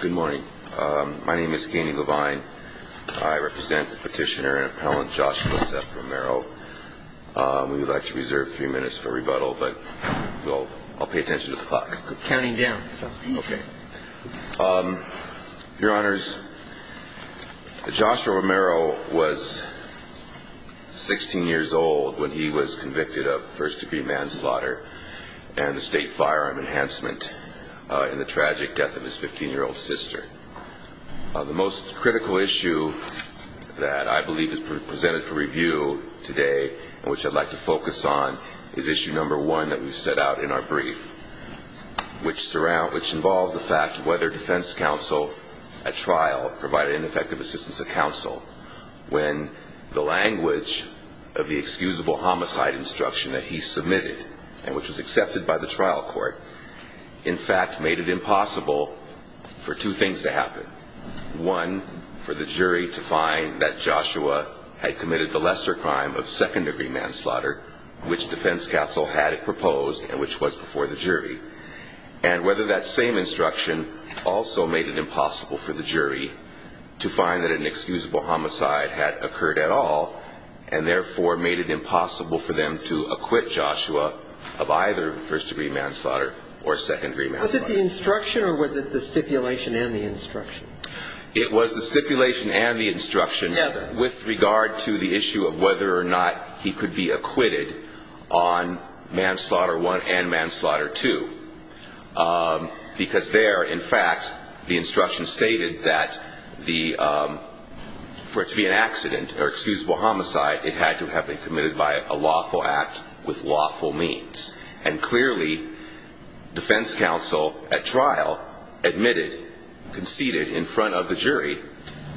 Good morning. My name is Keenan Levine. I represent the petitioner and appellant Joshua Romero. We would like to reserve a few minutes for rebuttal, but I'll pay attention to the clock. Counting down. Okay. Your Honors, Joshua Romero was 16 years old when he was convicted of first-degree manslaughter and the state firearm enhancement in the tragic death of his 15-year-old sister. The most critical issue that I believe is presented for review today and which I'd like to focus on is issue number one that we've set out in our brief, which involves the fact whether defense counsel at trial provided an effective assistance to counsel when the language of the excusable homicide instruction that he submitted, and which was accepted by the trial court, in fact made it impossible for two things to happen. One, for the jury to find that Joshua had committed the lesser crime of second-degree manslaughter, which defense counsel had proposed and which was before the jury. And whether that same instruction also made it impossible for the jury to find that an excusable homicide had occurred at all, and therefore made it impossible for them to acquit Joshua of either first-degree manslaughter or second-degree manslaughter. Was it the instruction or was it the stipulation and the instruction? It was the stipulation and the instruction with regard to the issue of whether or not he could be acquitted on manslaughter one and manslaughter two, because there, in fact, the instruction stated that for it to be an accident or excusable homicide, it had to have been committed by a lawful act with lawful means. And clearly, defense counsel at trial admitted, conceded in front of the jury,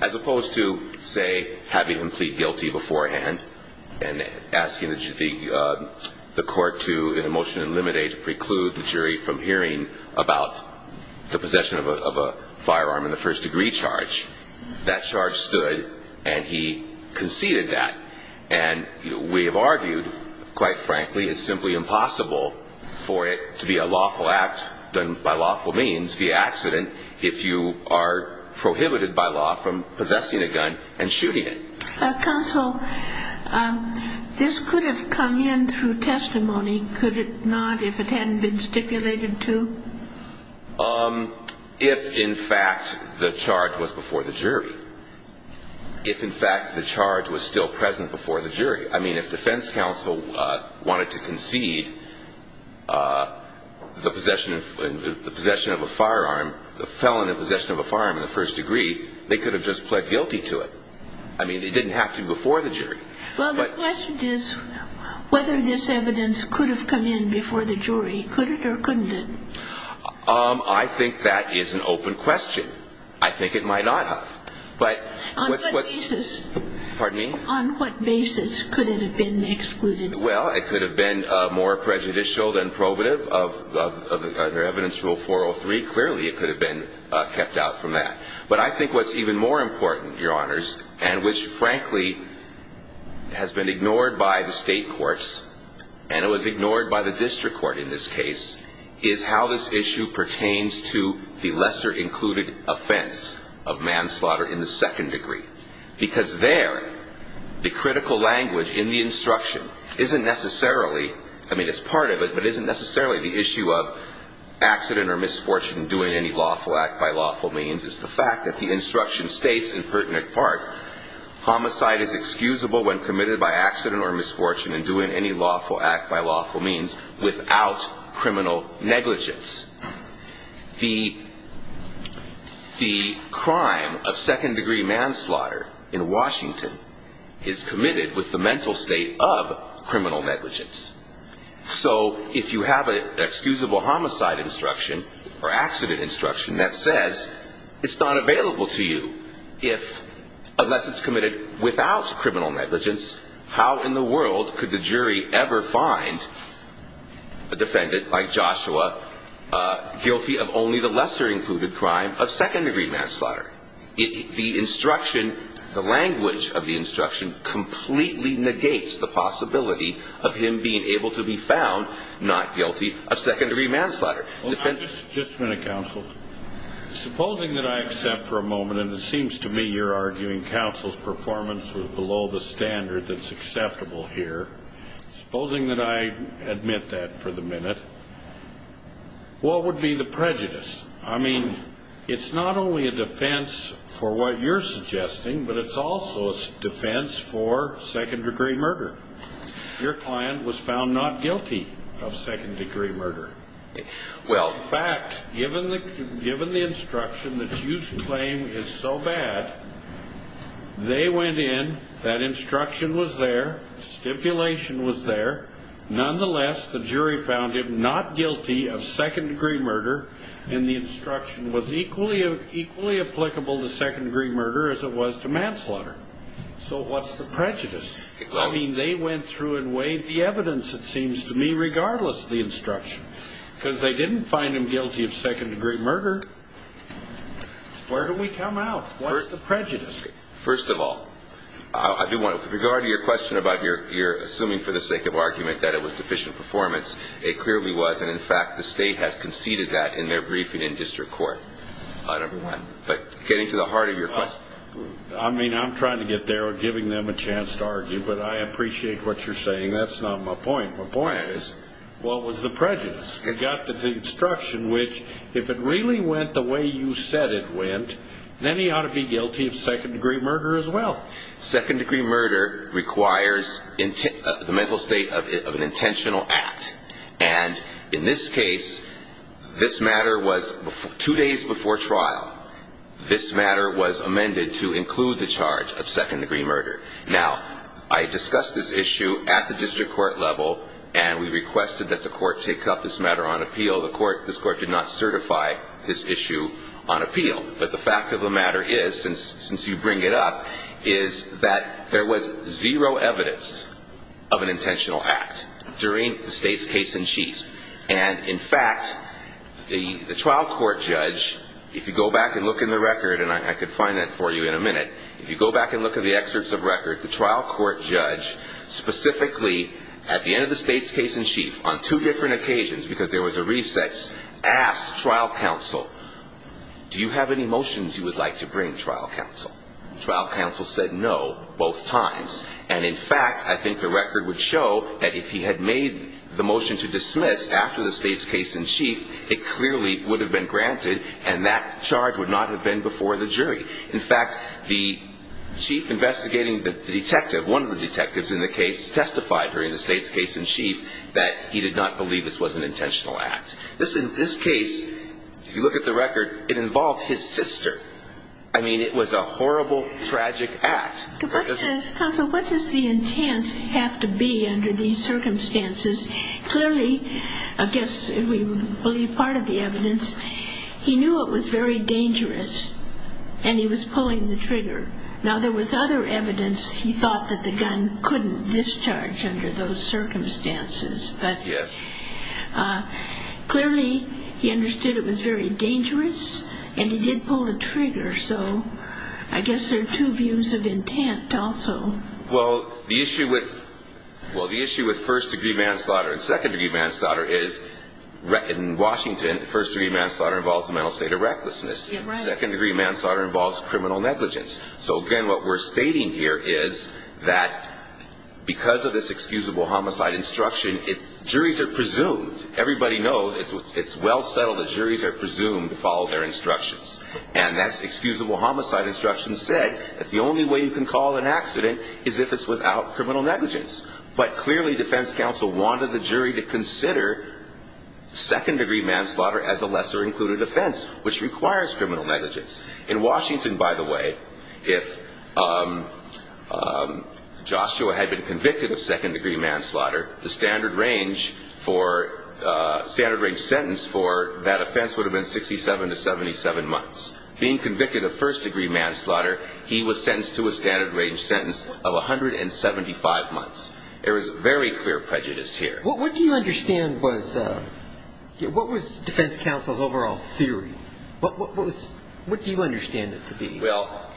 as opposed to, say, having him plead guilty beforehand and asking the court to, in a motion to eliminate, preclude the jury from hearing about the possession of a firearm in the first-degree charge. That charge stood, and he conceded that. And we have argued, quite frankly, it's simply impossible for it to be a lawful act done by lawful means via accident if you are prohibited by law from possessing a gun and shooting it. Counsel, this could have come in through testimony, could it not, if it hadn't been stipulated to? If, in fact, the charge was before the jury. If, in fact, the charge was still present before the jury. I mean, if defense counsel wanted to concede the possession of a firearm, the felon in possession of a firearm in the first-degree, they could have just pled guilty to it. I mean, it didn't have to be before the jury. Well, the question is whether this evidence could have come in before the jury. Could it or couldn't it? I think that is an open question. I think it might not have. On what basis? Pardon me? On what basis could it have been excluded? Well, it could have been more prejudicial than probative of evidence rule 403. Clearly, it could have been kept out from that. But I think what's even more important, Your Honors, and which, frankly, has been ignored by the state courts, and it was ignored by the district court in this case, is how this issue pertains to the lesser included offense of manslaughter in the second degree. Because there, the critical language in the instruction isn't necessarily, I mean, it's part of it, but isn't necessarily the issue of accident or misfortune in doing any lawful act by lawful means. It's the fact that the instruction states, in pertinent part, homicide is excusable when committed by accident or misfortune in doing any lawful act by lawful means without criminal negligence. The crime of second degree manslaughter in Washington is committed with the mental state of criminal negligence. So if you have an excusable homicide instruction or accident instruction that says it's not available to you, unless it's committed without criminal negligence, how in the world could the jury ever find a defendant like Joshua, a man who committed a crime without criminal negligence? Guilty of only the lesser included crime of second degree manslaughter. The instruction, the language of the instruction, completely negates the possibility of him being able to be found not guilty of second degree manslaughter. Just a minute, counsel. Supposing that I accept for a moment, and it seems to me you're arguing counsel's performance was below the standard that's acceptable here. Supposing that I admit that for the minute, what would be the prejudice? I mean, it's not only a defense for what you're suggesting, but it's also a defense for second degree murder. Your client was found not guilty of second degree murder. In fact, given the instruction that you claim is so bad, they went in, that instruction was there, stipulation was there. Nonetheless, the jury found him not guilty of second degree murder, and the instruction was equally applicable to second degree murder as it was to manslaughter. So what's the prejudice? I mean, they went through and weighed the evidence, it seems to me, regardless of the instruction. Because they didn't find him guilty of second degree murder. Where do we come out? What's the prejudice? First of all, I do want to, with regard to your question about your assuming for the sake of argument that it was deficient performance, it clearly was, and in fact, the state has conceded that in their briefing in district court. But getting to the heart of your question. I mean, I'm trying to get there, giving them a chance to argue, but I appreciate what you're saying. That's not my point. My point is, what was the prejudice? You got the instruction which, if it really went the way you said it went, then he ought to be guilty of second degree murder as well. Second degree murder requires the mental state of an intentional act. And in this case, this matter was, two days before trial, this matter was amended to include the charge of second degree murder. Now, I discussed this issue at the district court level, and we requested that the court take up this matter on appeal. This court did not certify this issue on appeal. But the fact of the matter is, since you bring it up, is that there was zero evidence of an intentional act during the state's case in chief. And in fact, the trial court judge, if you go back and look in the record, and I could find that for you in a minute, if you go back and look at the excerpts of record, the trial court judge specifically, at the end of the state's case in chief, on two different occasions, because there was a reset, asked trial counsel, do you have any motions you would like to bring, trial counsel? Trial counsel said no, both times. And in fact, I think the record would show that if he had made the motion to dismiss after the state's case in chief, it clearly would have been granted, and that charge would not have been before the jury. In fact, the chief investigating the detective, one of the detectives in the case, testified during the state's case in chief that he did not believe this was an intentional act. In this case, if you look at the record, it involved his sister. I mean, it was a horrible, tragic act. Counsel, what does the intent have to be under these circumstances? Clearly, I guess we believe part of the evidence. He knew it was very dangerous, and he was pulling the trigger. Now, there was other evidence he thought that the gun couldn't discharge under those circumstances. But clearly, he understood it was very dangerous, and he did pull the trigger. So I guess there are two views of intent also. Well, the issue with first-degree manslaughter and second-degree manslaughter is, in Washington, first-degree manslaughter involves a mental state of recklessness. Second-degree manslaughter involves criminal negligence. So again, what we're stating here is that because of this excusable homicide instruction, juries are presumed, everybody knows, it's well settled that juries are presumed to follow their instructions. And that excusable homicide instruction said that the only way you can call an accident is if it's without criminal negligence. But clearly, defense counsel wanted the jury to consider second-degree manslaughter as a lesser-included offense, which requires criminal negligence. In Washington, by the way, if Joshua had been convicted of second-degree manslaughter, the standard-range sentence for that offense would have been 67 to 77 months. Being convicted of first-degree manslaughter, he was sentenced to a standard-range sentence of 175 months. There is very clear prejudice here. What do you understand was defense counsel's overall theory? What do you understand it to be? Well,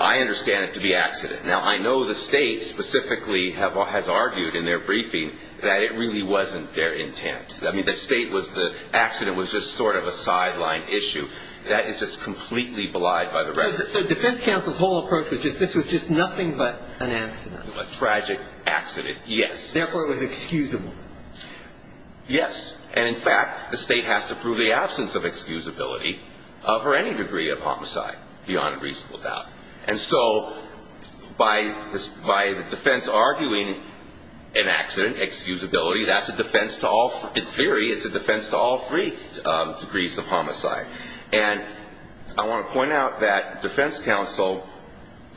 I understand it to be accident. Now, I know the state specifically has argued in their briefing that it really wasn't their intent. I mean, the accident was just sort of a sideline issue. That is just completely belied by the record. So defense counsel's whole approach was just this was just nothing but an accident. A tragic accident, yes. Therefore, it was excusable. Yes. And in fact, the state has to prove the absence of excusability for any degree of homicide, beyond a reasonable doubt. And so by the defense arguing an accident, excusability, that's a defense to all, in theory, it's a defense to all three degrees of homicide. And I want to point out that defense counsel,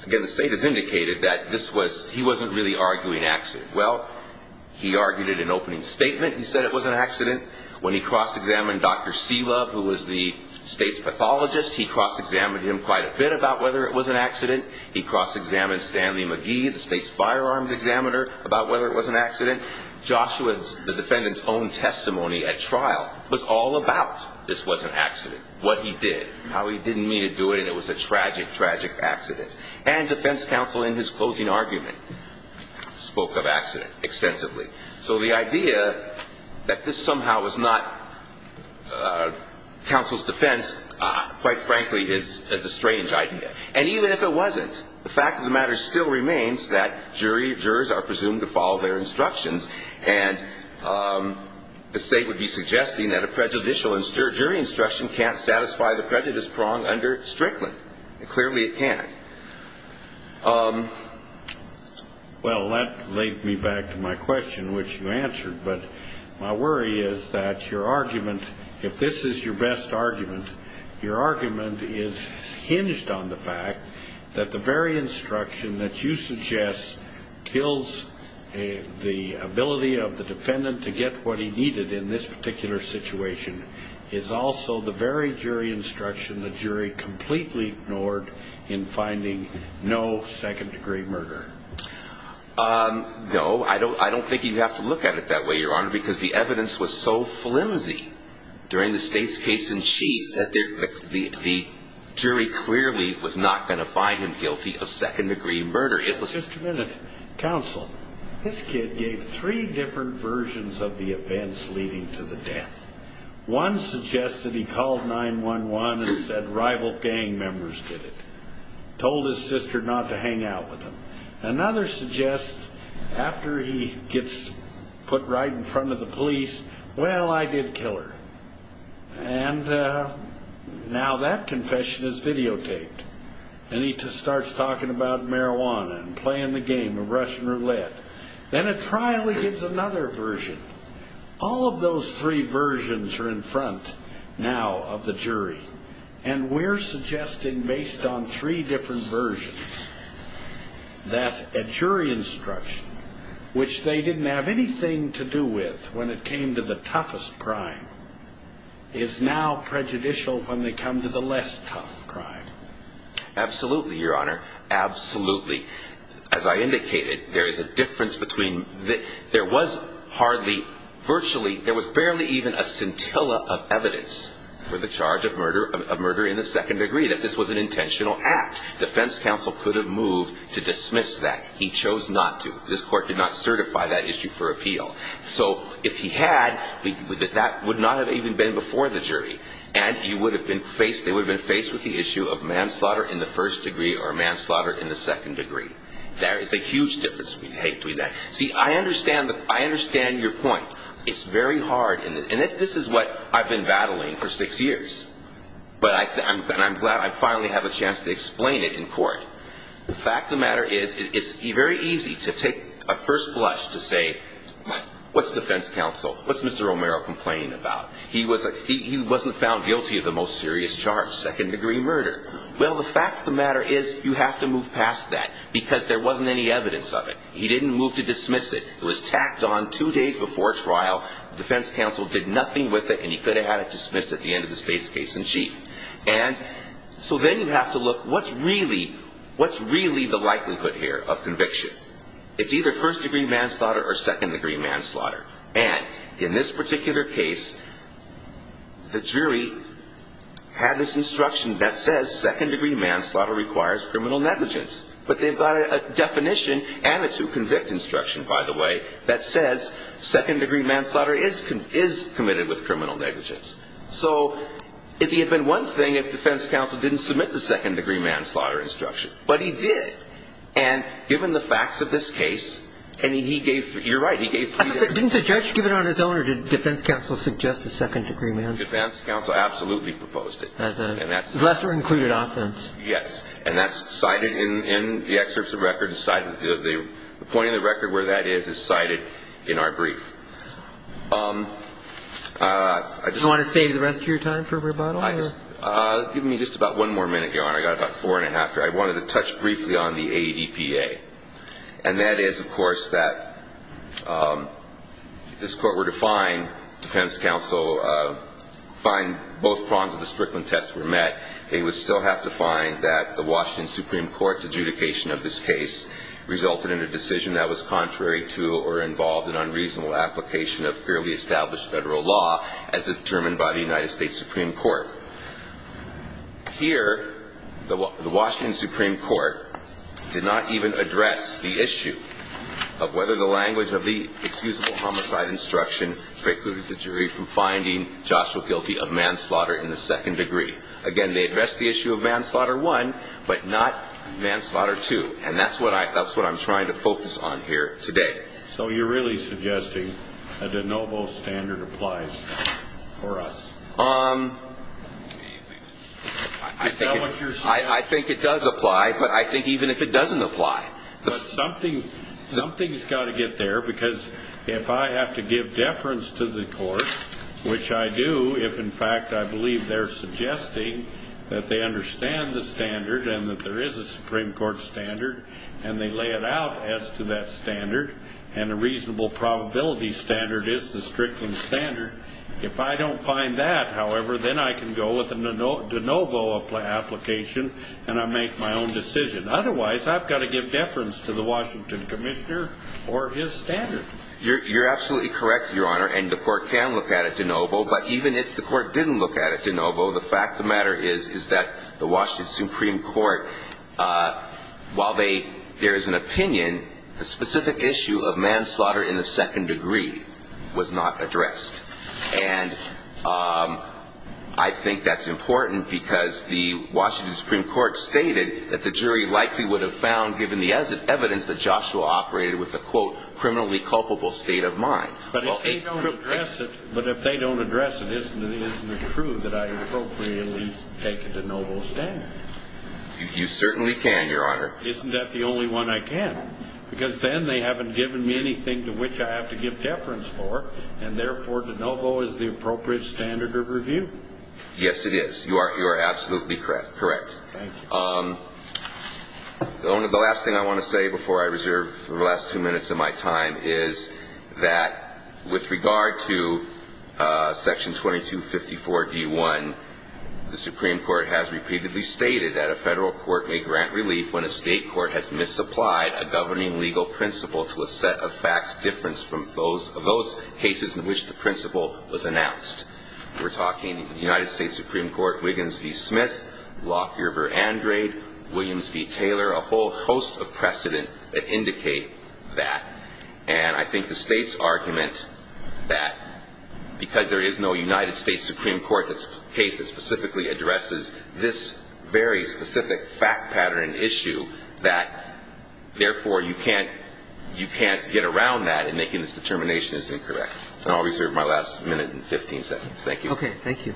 again, the state has indicated that this was, he wasn't really arguing accident. Well, he argued it in opening statement. He said it was an accident. When he cross-examined Dr. Seelove, who was the state's pathologist, he cross-examined him quite a bit about whether it was an accident. He cross-examined Stanley McGee, the state's firearms examiner, about whether it was an accident. Joshua, the defendant's own testimony at trial, was all about this was an accident. What he did, how he didn't mean to do it, and it was a tragic, tragic accident. And defense counsel, in his closing argument, spoke of accident extensively. So the idea that this somehow was not counsel's defense, quite frankly, is a strange idea. And even if it wasn't, the fact of the matter still remains that jury jurors are presumed to follow their instructions. And the state would be suggesting that a prejudicial jury instruction can't satisfy the prejudice prong under Strickland. Clearly it can't. Well, that led me back to my question, which you answered. But my worry is that your argument, if this is your best argument, your argument is hinged on the fact that the very instruction that you suggest kills the ability of the defendant to get what he needed in this particular situation is also the very jury instruction the jury completely ignored in finding no satisfactory evidence. No, I don't. I don't think you have to look at it that way, Your Honor, because the evidence was so flimsy during the state's case in chief that the jury clearly was not going to find him guilty of second degree murder. Just a minute. Counsel, this kid gave three different versions of the events leading to the death. One suggests that he called 911 and said rival gang members did it, told his sister not to hang out with him. Another suggests after he gets put right in front of the police, well, I did kill her. And now that confession is videotaped. And he starts talking about marijuana and playing the game of Russian roulette. Then at trial he gives another version. All of those three versions are in front now of the jury. And we're suggesting based on three different versions that a jury instruction, which they didn't have anything to do with when it came to the toughest crime, is now prejudicial when they come to the less tough crime. Absolutely, Your Honor. Absolutely. As I indicated, there is a difference between there was hardly virtually there was barely even a scintilla of evidence for the charge of murder of murder in the second degree that this was an intentional act. Defense counsel could have moved to dismiss that. He chose not to. This court did not certify that issue for appeal. So if he had, that would not have even been before the jury. And he would have been faced they would have been faced with the issue of manslaughter in the first degree or manslaughter in the second degree. There is a huge difference between that. See, I understand that. I understand your point. It's very hard. And this is what I've been battling for six years. But I'm glad I finally have a chance to explain it in court. The fact of the matter is, it's very easy to take a first blush to say, what's defense counsel? What's Mr. Romero complaining about? He wasn't found guilty of the most serious charge, second degree murder. Well, the fact of the matter is, you have to move past that. Because there wasn't any evidence of it. He didn't move to dismiss it. It was tacked on two days before trial. Defense counsel did nothing with it and he could have had it dismissed at the end of the state's case in chief. And so then you have to look, what's really the likelihood here of conviction? It's either first degree manslaughter or second degree manslaughter. And in this particular case, the jury had this instruction that says, if you're a first degree manslaughter, you're going to be charged with second degree manslaughter. And second degree manslaughter requires criminal negligence. But they've got a definition and a two-convict instruction, by the way, that says, second degree manslaughter is committed with criminal negligence. So it would have been one thing if defense counsel didn't submit the second degree manslaughter instruction. But he did. And given the facts of this case, and he gave, you're right, he gave three days. Didn't the judge give it on his own or did defense counsel suggest a second degree manslaughter? Defense counsel absolutely proposed it. As a lesser included offense? Yes. And that's cited in the excerpts of record. The point of the record where that is is cited in our brief. Do you want to save the rest of your time for rebuttal? Give me just about one more minute, Your Honor. I've got about four and a half here. I wanted to touch briefly on the ADPA. And that is, of course, that if this court were to find both prongs of the Strickland test were met, it would still have to find that the Washington Supreme Court's adjudication of this case resulted in a decision that was contrary to or involved in unreasonable application of fairly established federal law as determined by the United States Supreme Court. Here, the Washington Supreme Court did not even address the issue of whether the language of the excusable homicide instruction precluded the jury from finding Joshua guilty of manslaughter in the second degree. Again, they addressed the issue of manslaughter one, but not manslaughter two. And that's what I'm trying to focus on here today. So you're really suggesting a de novo standard applies for us? I think it does apply, but I think even if it doesn't apply. But something's got to get there, because if I have to give deference to the court, which I do, if in fact I believe they're suggesting that they understand the standard and that there is a Supreme Court standard, and they lay it out as to that standard, and a reasonable probability standard is the Strickland standard, if I don't find that, however, then I can go with a de novo application and I make my own decision. Otherwise, I've got to give deference to the Washington commissioner or his standard. You're absolutely correct, Your Honor, and the court can look at it de novo. But even if the court didn't look at it de novo, the fact of the matter is, is that the Washington Supreme Court, while there is an opinion, the specific issue of manslaughter in the second degree was not addressed. And I think that's important because the Washington Supreme Court stated that the jury likely would have found, given the evidence, that Joshua operated with a, quote, criminally culpable state of mind. But if they don't address it, isn't it true that I appropriately take it de novo standard? You certainly can, Your Honor. Isn't that the only one I can? Because then they haven't given me anything to which I have to give deference for, and therefore de novo is the appropriate standard of review. Yes, it is. You are absolutely correct. Thank you. The last thing I want to say before I reserve the last two minutes of my time is that with regard to Section 2254D1, the Supreme Court has repeatedly stated that a federal court may grant relief when a state court has misapplied a governing legal principle to a set of facts different from those cases in which the principle was announced. We're talking United States Supreme Court Wiggins v. Smith, Lockyer v. Andrade, Williams v. Taylor, a whole host of precedent that indicate that. And I think the State's argument that because there is no United States Supreme Court case that specifically addresses this very specific fact pattern issue, that therefore you can't get around that in making this determination as incorrect. And I'll reserve my last minute and 15 seconds. Thank you. Okay. Thank you.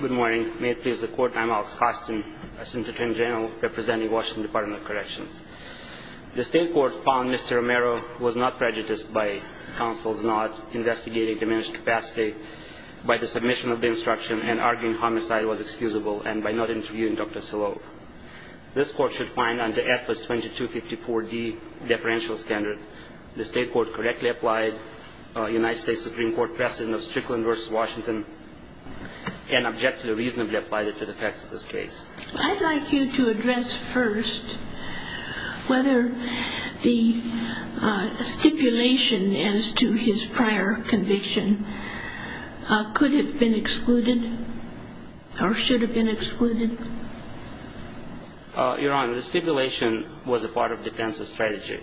Good morning. May it please the Court, I'm Alex Kostin, Assistant Attorney General representing Washington Department of Corrections. The State court found Mr. Romero was not prejudiced by counsel's nod, investigating diminished capacity by the submission of the instruction, and arguing homicide was excusable and by not interviewing Dr. Sillow. This Court should find under Atlas 2254D, deferential standard, the State court correctly applied United States Supreme Court precedent of Strickland v. Washington, and objectively reasonably applied it to the facts of this case. I'd like you to address first whether the stipulation as to his prior conviction could have been excluded or should have been excluded. Your Honor, the stipulation was a part of defense's strategy,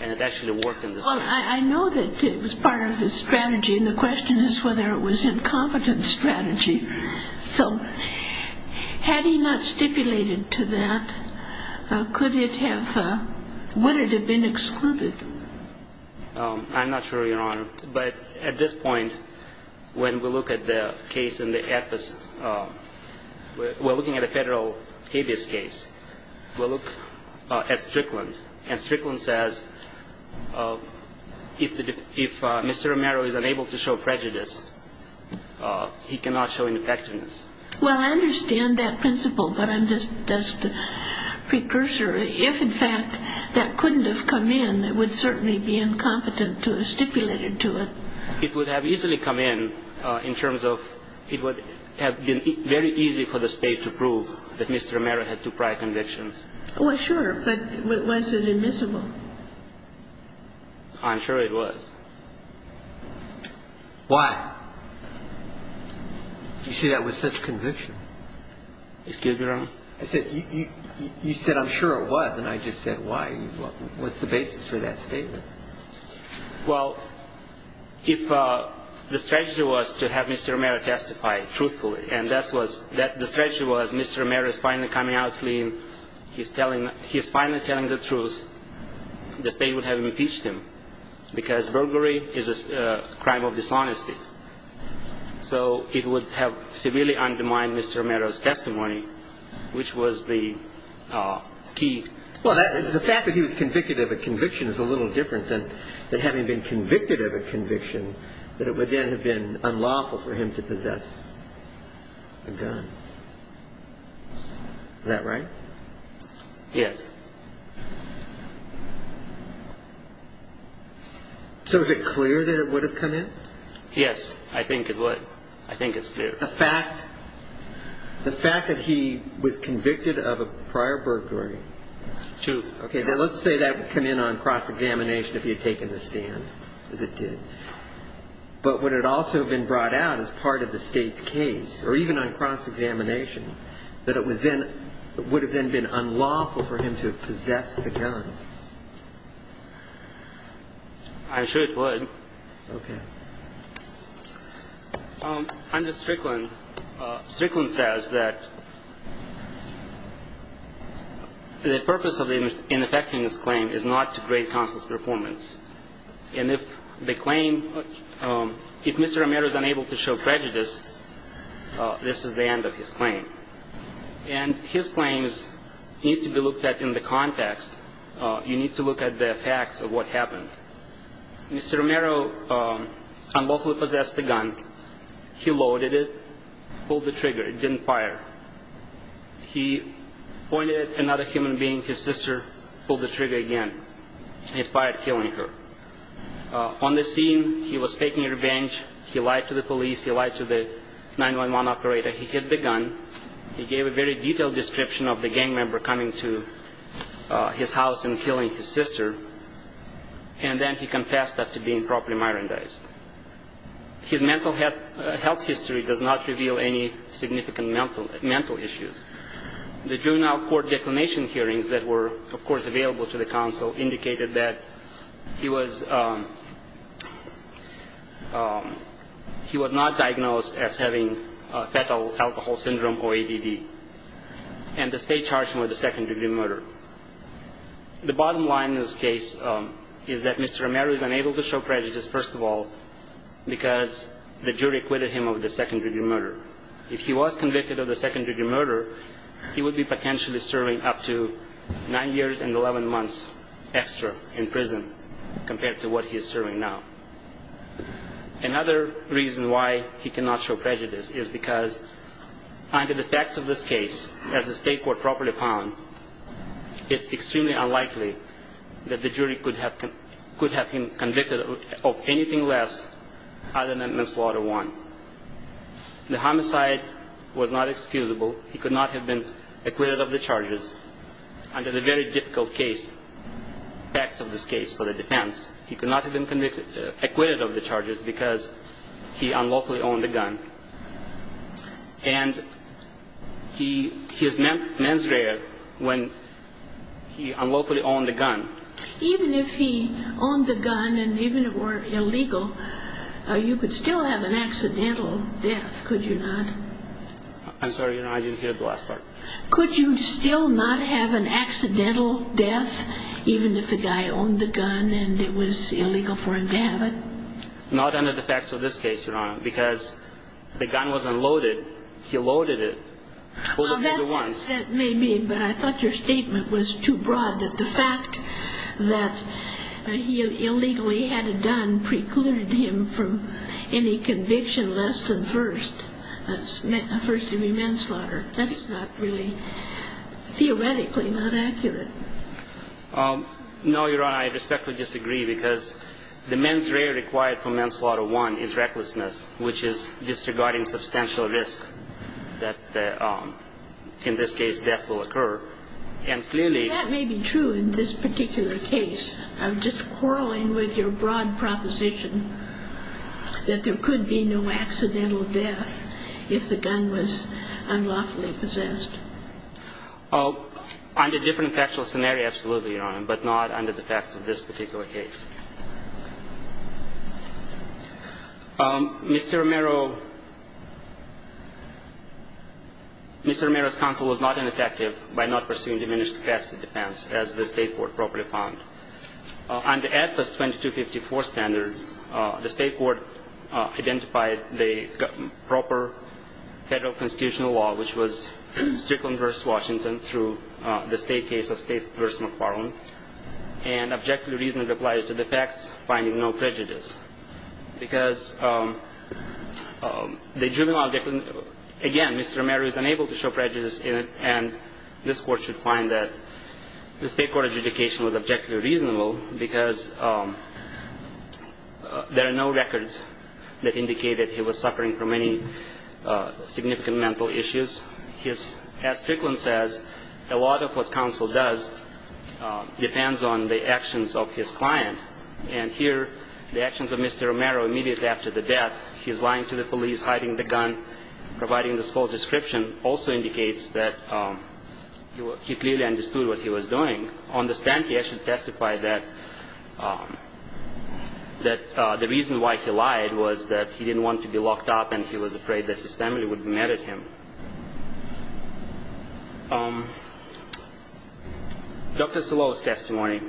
and it actually worked in this case. Well, I know that it was part of his strategy, and the question is whether it was incompetent strategy. So had he not stipulated to that, could it have, would it have been excluded? I'm not sure, Your Honor. But at this point, when we look at the case in the AFIS, we're looking at a federal habeas case. We'll look at Strickland, and Strickland says if Mr. Romero is unable to show prejudice, he cannot show ineffectiveness. Well, I understand that principle, but I'm just a precursor. If, in fact, that couldn't have come in, it would certainly be incompetent to have stipulated to it. It would have easily come in in terms of it would have been very easy for the State to prove that Mr. Romero had two prior convictions. Well, sure, but was it admissible? I'm sure it was. Why? You say that with such conviction. Excuse me, Your Honor. I said, you said, I'm sure it was, and I just said, why? What's the basis for that statement? Well, if the strategy was to have Mr. Romero testify truthfully, and that's what the strategy was, Mr. Romero is finally coming out clean, he's finally telling the truth, the State would have impeached him because burglary is a crime of dishonesty. So it would have severely undermined Mr. Romero's testimony, which was the key. Well, the fact that he was convicted of a conviction is a little different than having been convicted of a conviction, that it would then have been unlawful for him to possess a gun. Is that right? Yes. So is it clear that it would have come in? Yes, I think it would. I think it's clear. The fact that he was convicted of a prior burglary. True. Okay, now let's say that would come in on cross-examination if he had taken the stand, as it did. But would it also have been brought out as part of the State's case, or even on cross-examination, that it would have then been unlawful for him to possess the gun? I'm sure it would. Under Strickland, Strickland says that the purpose in effecting this claim is not to grade counsel's performance. And if the claim, if Mr. Romero is unable to show prejudice, this is the end of his claim. And his claims need to be looked at in the context. You need to look at the facts of what happened. Mr. Romero unlawfully possessed the gun. He loaded it, pulled the trigger. It didn't fire. He pointed at another human being, his sister, pulled the trigger again. It fired, killing her. On the scene, he was taking revenge. He lied to the police. He lied to the 911 operator. He hid the gun. He gave a very detailed description of the gang member coming to his house and killing his sister. And then he confessed after being properly myrandized. His mental health history does not reveal any significant mental issues. The juvenile court declination hearings that were, of course, available to the counsel indicated that he was, he was not diagnosed as having fatal alcohol syndrome or ADD. And the State charged him with a second-degree murder. The bottom line in this case is that Mr. Romero is unable to show prejudice, first of all, because the jury acquitted him of the second-degree murder. However, if he was convicted of the second-degree murder, he would be potentially serving up to nine years and 11 months extra in prison compared to what he is serving now. Another reason why he cannot show prejudice is because under the facts of this case, as the State court properly found, it's extremely unlikely that the jury could have him convicted of anything less other than manslaughter one. The homicide was not excusable. He could not have been acquitted of the charges under the very difficult case, facts of this case for the defense. He could not have been acquitted of the charges because he unlawfully owned a gun. And he is manslaughtered when he unlawfully owned a gun. Even if he owned the gun and even it were illegal, you could still have an accidental death, could you not? I'm sorry, Your Honor, I didn't hear the last part. Could you still not have an accidental death even if the guy owned the gun and it was illegal for him to have it? Not under the facts of this case, Your Honor, because the gun was unloaded. He loaded it. Well, that may mean, but I thought your statement was too broad, that the fact that he illegally had a gun precluded him from any conviction less than first, first degree manslaughter. That's not really theoretically not accurate. No, Your Honor, I respectfully disagree because the mens rea required for manslaughter one is recklessness, which is disregarding substantial risk that in this case death will occur. And clearly that may be true in this particular case. I'm just quarreling with your broad proposition that there could be no accidental death if the gun was unlawfully possessed. Under different factual scenario, absolutely, Your Honor, but not under the facts of this particular case. Mr. Romero, Mr. Romero's counsel was not ineffective by not pursuing diminished capacity defense, as the State Court properly found. Under AFIS 2254 standard, the State Court identified the proper federal constitutional law, which was Strickland v. Washington through the state case of State v. McFarland, and objectively reasonably applied it to the facts, finding no prejudice. Because the juvenile, again, Mr. Romero is unable to show prejudice in it, and this Court should find that the State Court adjudication was objectively reasonable because there are no records that indicate that he was suffering from any significant mental issues. As Strickland says, a lot of what counsel does depends on the actions of his client. And here, the actions of Mr. Romero immediately after the death, he's lying to the police, hiding the gun, providing this false description, also indicates that he clearly understood what he was doing. On the stand, he actually testified that the reason why he lied was that he didn't want to be locked up and he was afraid that his family would be mad at him. Dr. Silovo's testimony.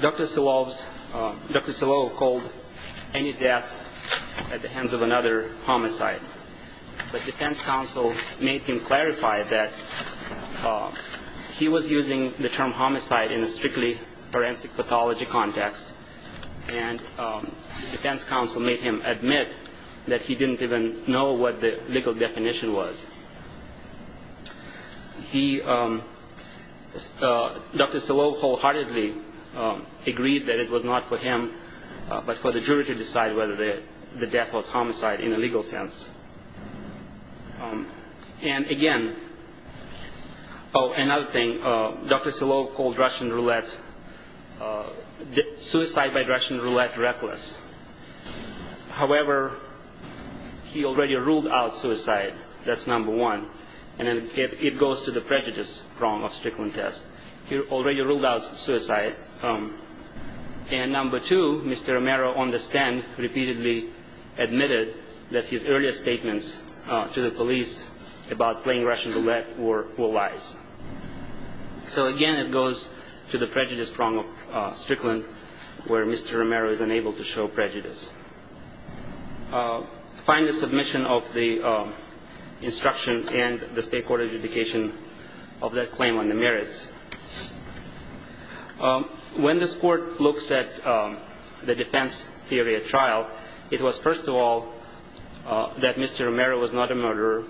Dr. Silovo called any death at the hands of another homicide, but defense counsel made him clarify that he was using the term homicide in a strictly forensic pathology context, and defense counsel made him admit that he didn't even know what the legal definition was. Dr. Silovo wholeheartedly agreed that it was not for him, but for the jury to decide whether the death was homicide in a legal sense. And again, oh, another thing. Dr. Silovo called Russian roulette, suicide by Russian roulette reckless. However, he already ruled out suicide. That's number one. And it goes to the prejudice prong of Strickland's test. He already ruled out suicide. And number two, Mr. Romero on the stand repeatedly admitted that his earlier statements to the police about playing Russian roulette were lies. So, again, it goes to the prejudice prong of Strickland where Mr. Romero is unable to show prejudice. Find the submission of the instruction and the state court adjudication of that claim on the merits. When this court looks at the defense theory at trial, it was, first of all, that Mr. Romero was not a murderer.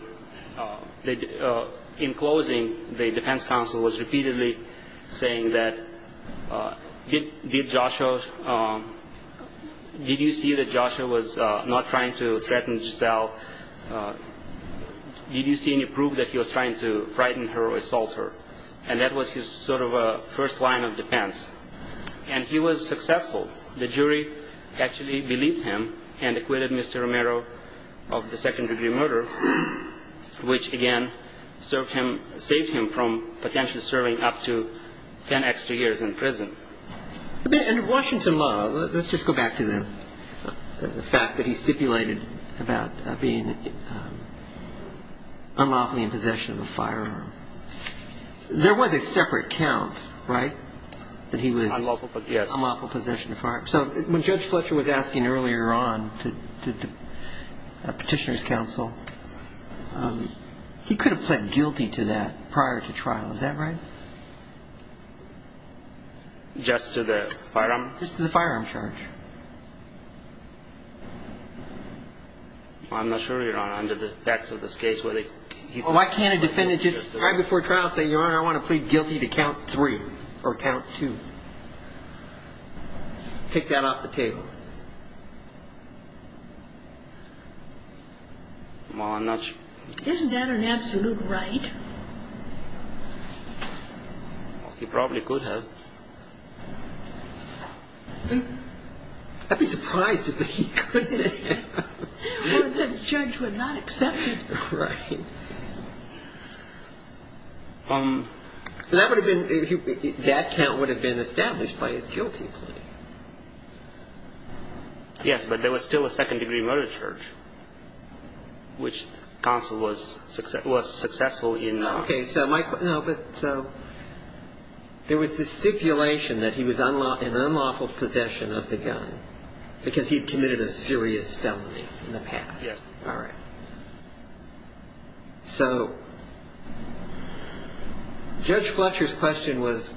In closing, the defense counsel was repeatedly saying that, did you see that Joshua was not trying to threaten Giselle? Did you see any proof that he was trying to frighten her or assault her? And that was his sort of first line of defense. And he was successful. The jury actually believed him and acquitted Mr. Romero of the second-degree murder, which, again, saved him from potentially serving up to ten extra years in prison. In Washington law, let's just go back to the fact that he stipulated about being unlawfully in possession of a firearm. There was a separate count, right, that he was unlawfully in possession of a firearm. So when Judge Fletcher was asking earlier on to petitioner's counsel, he could have pled guilty to that prior to trial. Is that right? Just to the firearm? Just to the firearm charge. I'm not sure, Your Honor, under the facts of this case, whether he could have pled guilty to that prior to trial. Well, why can't a defendant just right before trial say, Your Honor, I want to plead guilty to count three or count two? Take that off the table. Well, I'm not sure. Isn't that an absolute right? He probably could have. I'd be surprised if he couldn't have. Well, the judge would not accept it. Right. So that count would have been established by his guilty plea. Yes, but there was still a second-degree murder charge, which counsel was successful in. Okay, so there was this stipulation that he was in unlawful possession of the gun because he had committed a serious felony in the past. Yes. All right. So Judge Fletcher's question was,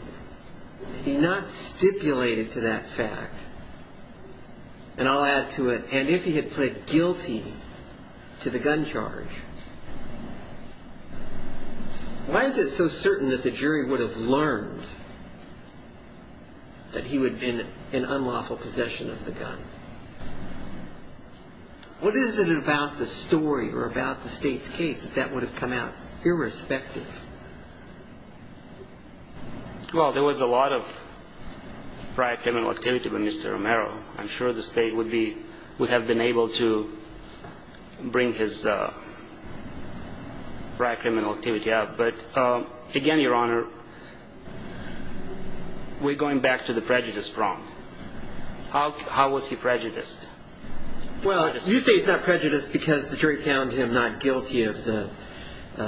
he not stipulated to that fact, and I'll add to it, and if he had pled guilty to the gun charge, why is it so certain that the jury would have learned that he would have been in unlawful possession of the gun? What is it about the story or about the State's case that that would have come out irrespective? Well, there was a lot of prior criminal activity with Mr. Romero. I'm sure the State would have been able to bring his prior criminal activity up. But again, Your Honor, we're going back to the prejudice prompt. How was he prejudiced? Well, you say he's not prejudiced because the jury found him not guilty of the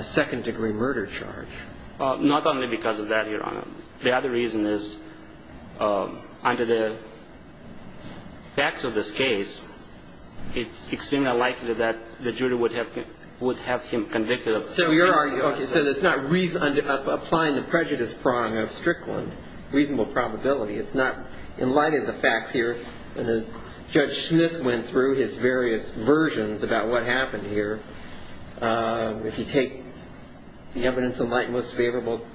second-degree murder charge. Not only because of that, Your Honor. The other reason is, under the facts of this case, it's extremely likely that the jury would have him convicted. So it's not applying the prejudice prong of Strickland, reasonable probability. It's not in light of the facts here. And as Judge Smith went through his various versions about what happened here, if you take the evidence in light most favorable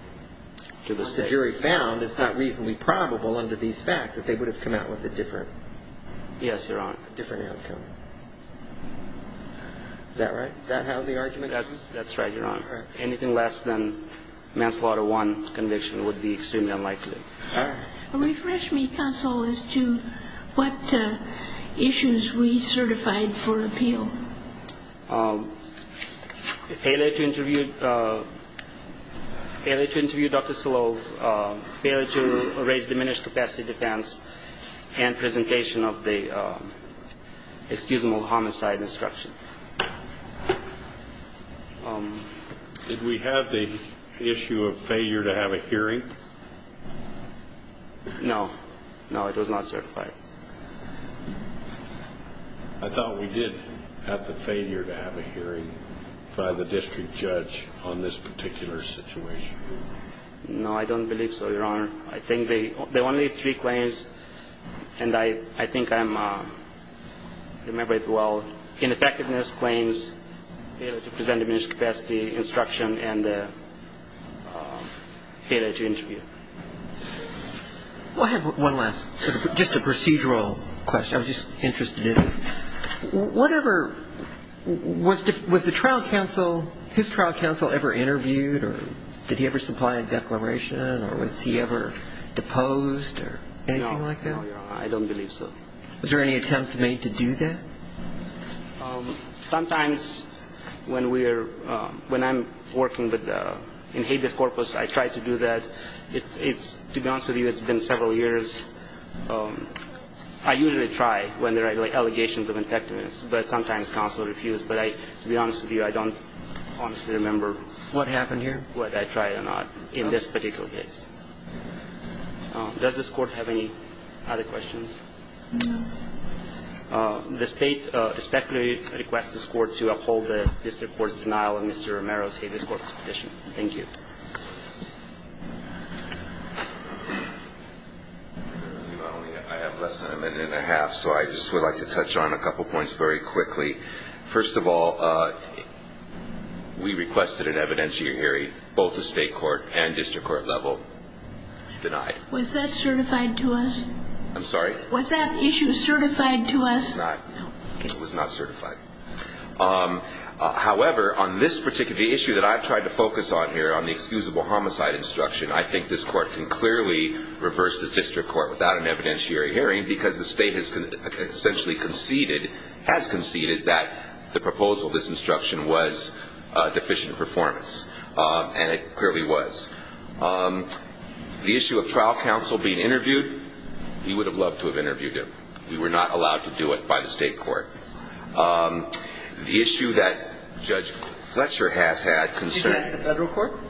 to the jury found, it's not reasonably probable under these facts that they would have come out with a different outcome. Yes, Your Honor. Is that right? Does that have the argument? That's right, Your Honor. Anything less than manslaughter one conviction would be extremely unlikely. All right. Refresh me, counsel, as to what issues we certified for appeal. Failure to interview Dr. Sloan, failure to raise diminished capacity defense, and presentation of the excusable homicide instruction. Did we have the issue of failure to have a hearing? No. No, it was not certified. I thought we did have the failure to have a hearing by the district judge on this particular situation. No, I don't believe so, Your Honor. I think the only three claims, and I think I'm remembered well, ineffectiveness claims, failure to present diminished capacity instruction, and failure to interview. Well, I have one last, just a procedural question I was just interested in. Whatever, was the trial counsel, his trial counsel ever interviewed or did he ever supply a declaration or was he ever deposed or anything like that? No, Your Honor, I don't believe so. Was there any attempt made to do that? Sometimes when I'm working in habeas corpus, I try to do that. To be honest with you, it's been several years. I usually try when there are allegations of ineffectiveness, but sometimes counsel refused. But to be honest with you, I don't honestly remember. What happened here? Whether I tried or not in this particular case. Does this court have any other questions? No. The state respectfully requests this court to uphold the district court's denial of Mr. Romero's habeas corpus petition. Thank you. I have less than a minute and a half, so I just would like to touch on a couple points very quickly. First of all, we requested an evidentiary hearing, both the state court and district court level denied. Was that certified to us? I'm sorry? Was that issue certified to us? It was not certified. However, on this particular issue that I've tried to focus on here, on the excusable homicide instruction, I think this court can clearly reverse the district court without an evidentiary hearing because the state has essentially conceded, has conceded, that the proposal of this instruction was deficient performance. And it clearly was. The issue of trial counsel being interviewed, we would have loved to have interviewed him. We were not allowed to do it by the state court. The issue that Judge Fletcher has had concerns. Did you ask the federal court?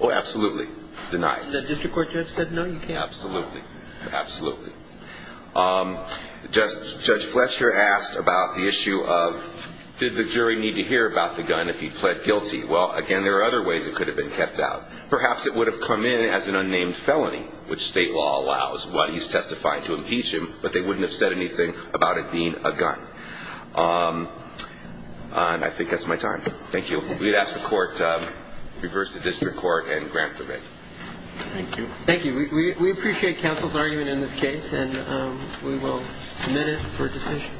Oh, absolutely. Denied. Did the district court judge say no? Absolutely. Judge Fletcher asked about the issue of did the jury need to hear about the gun if he pled guilty? Well, again, there are other ways it could have been kept out. Perhaps it would have come in as an unnamed felony, which state law allows while he's testifying to impeach him, but they wouldn't have said anything about it being a gun. And I think that's my time. Thank you. We'd ask the court to reverse the district court and grant the writ. Thank you. Thank you. We appreciate counsel's argument in this case, and we will submit it for decision.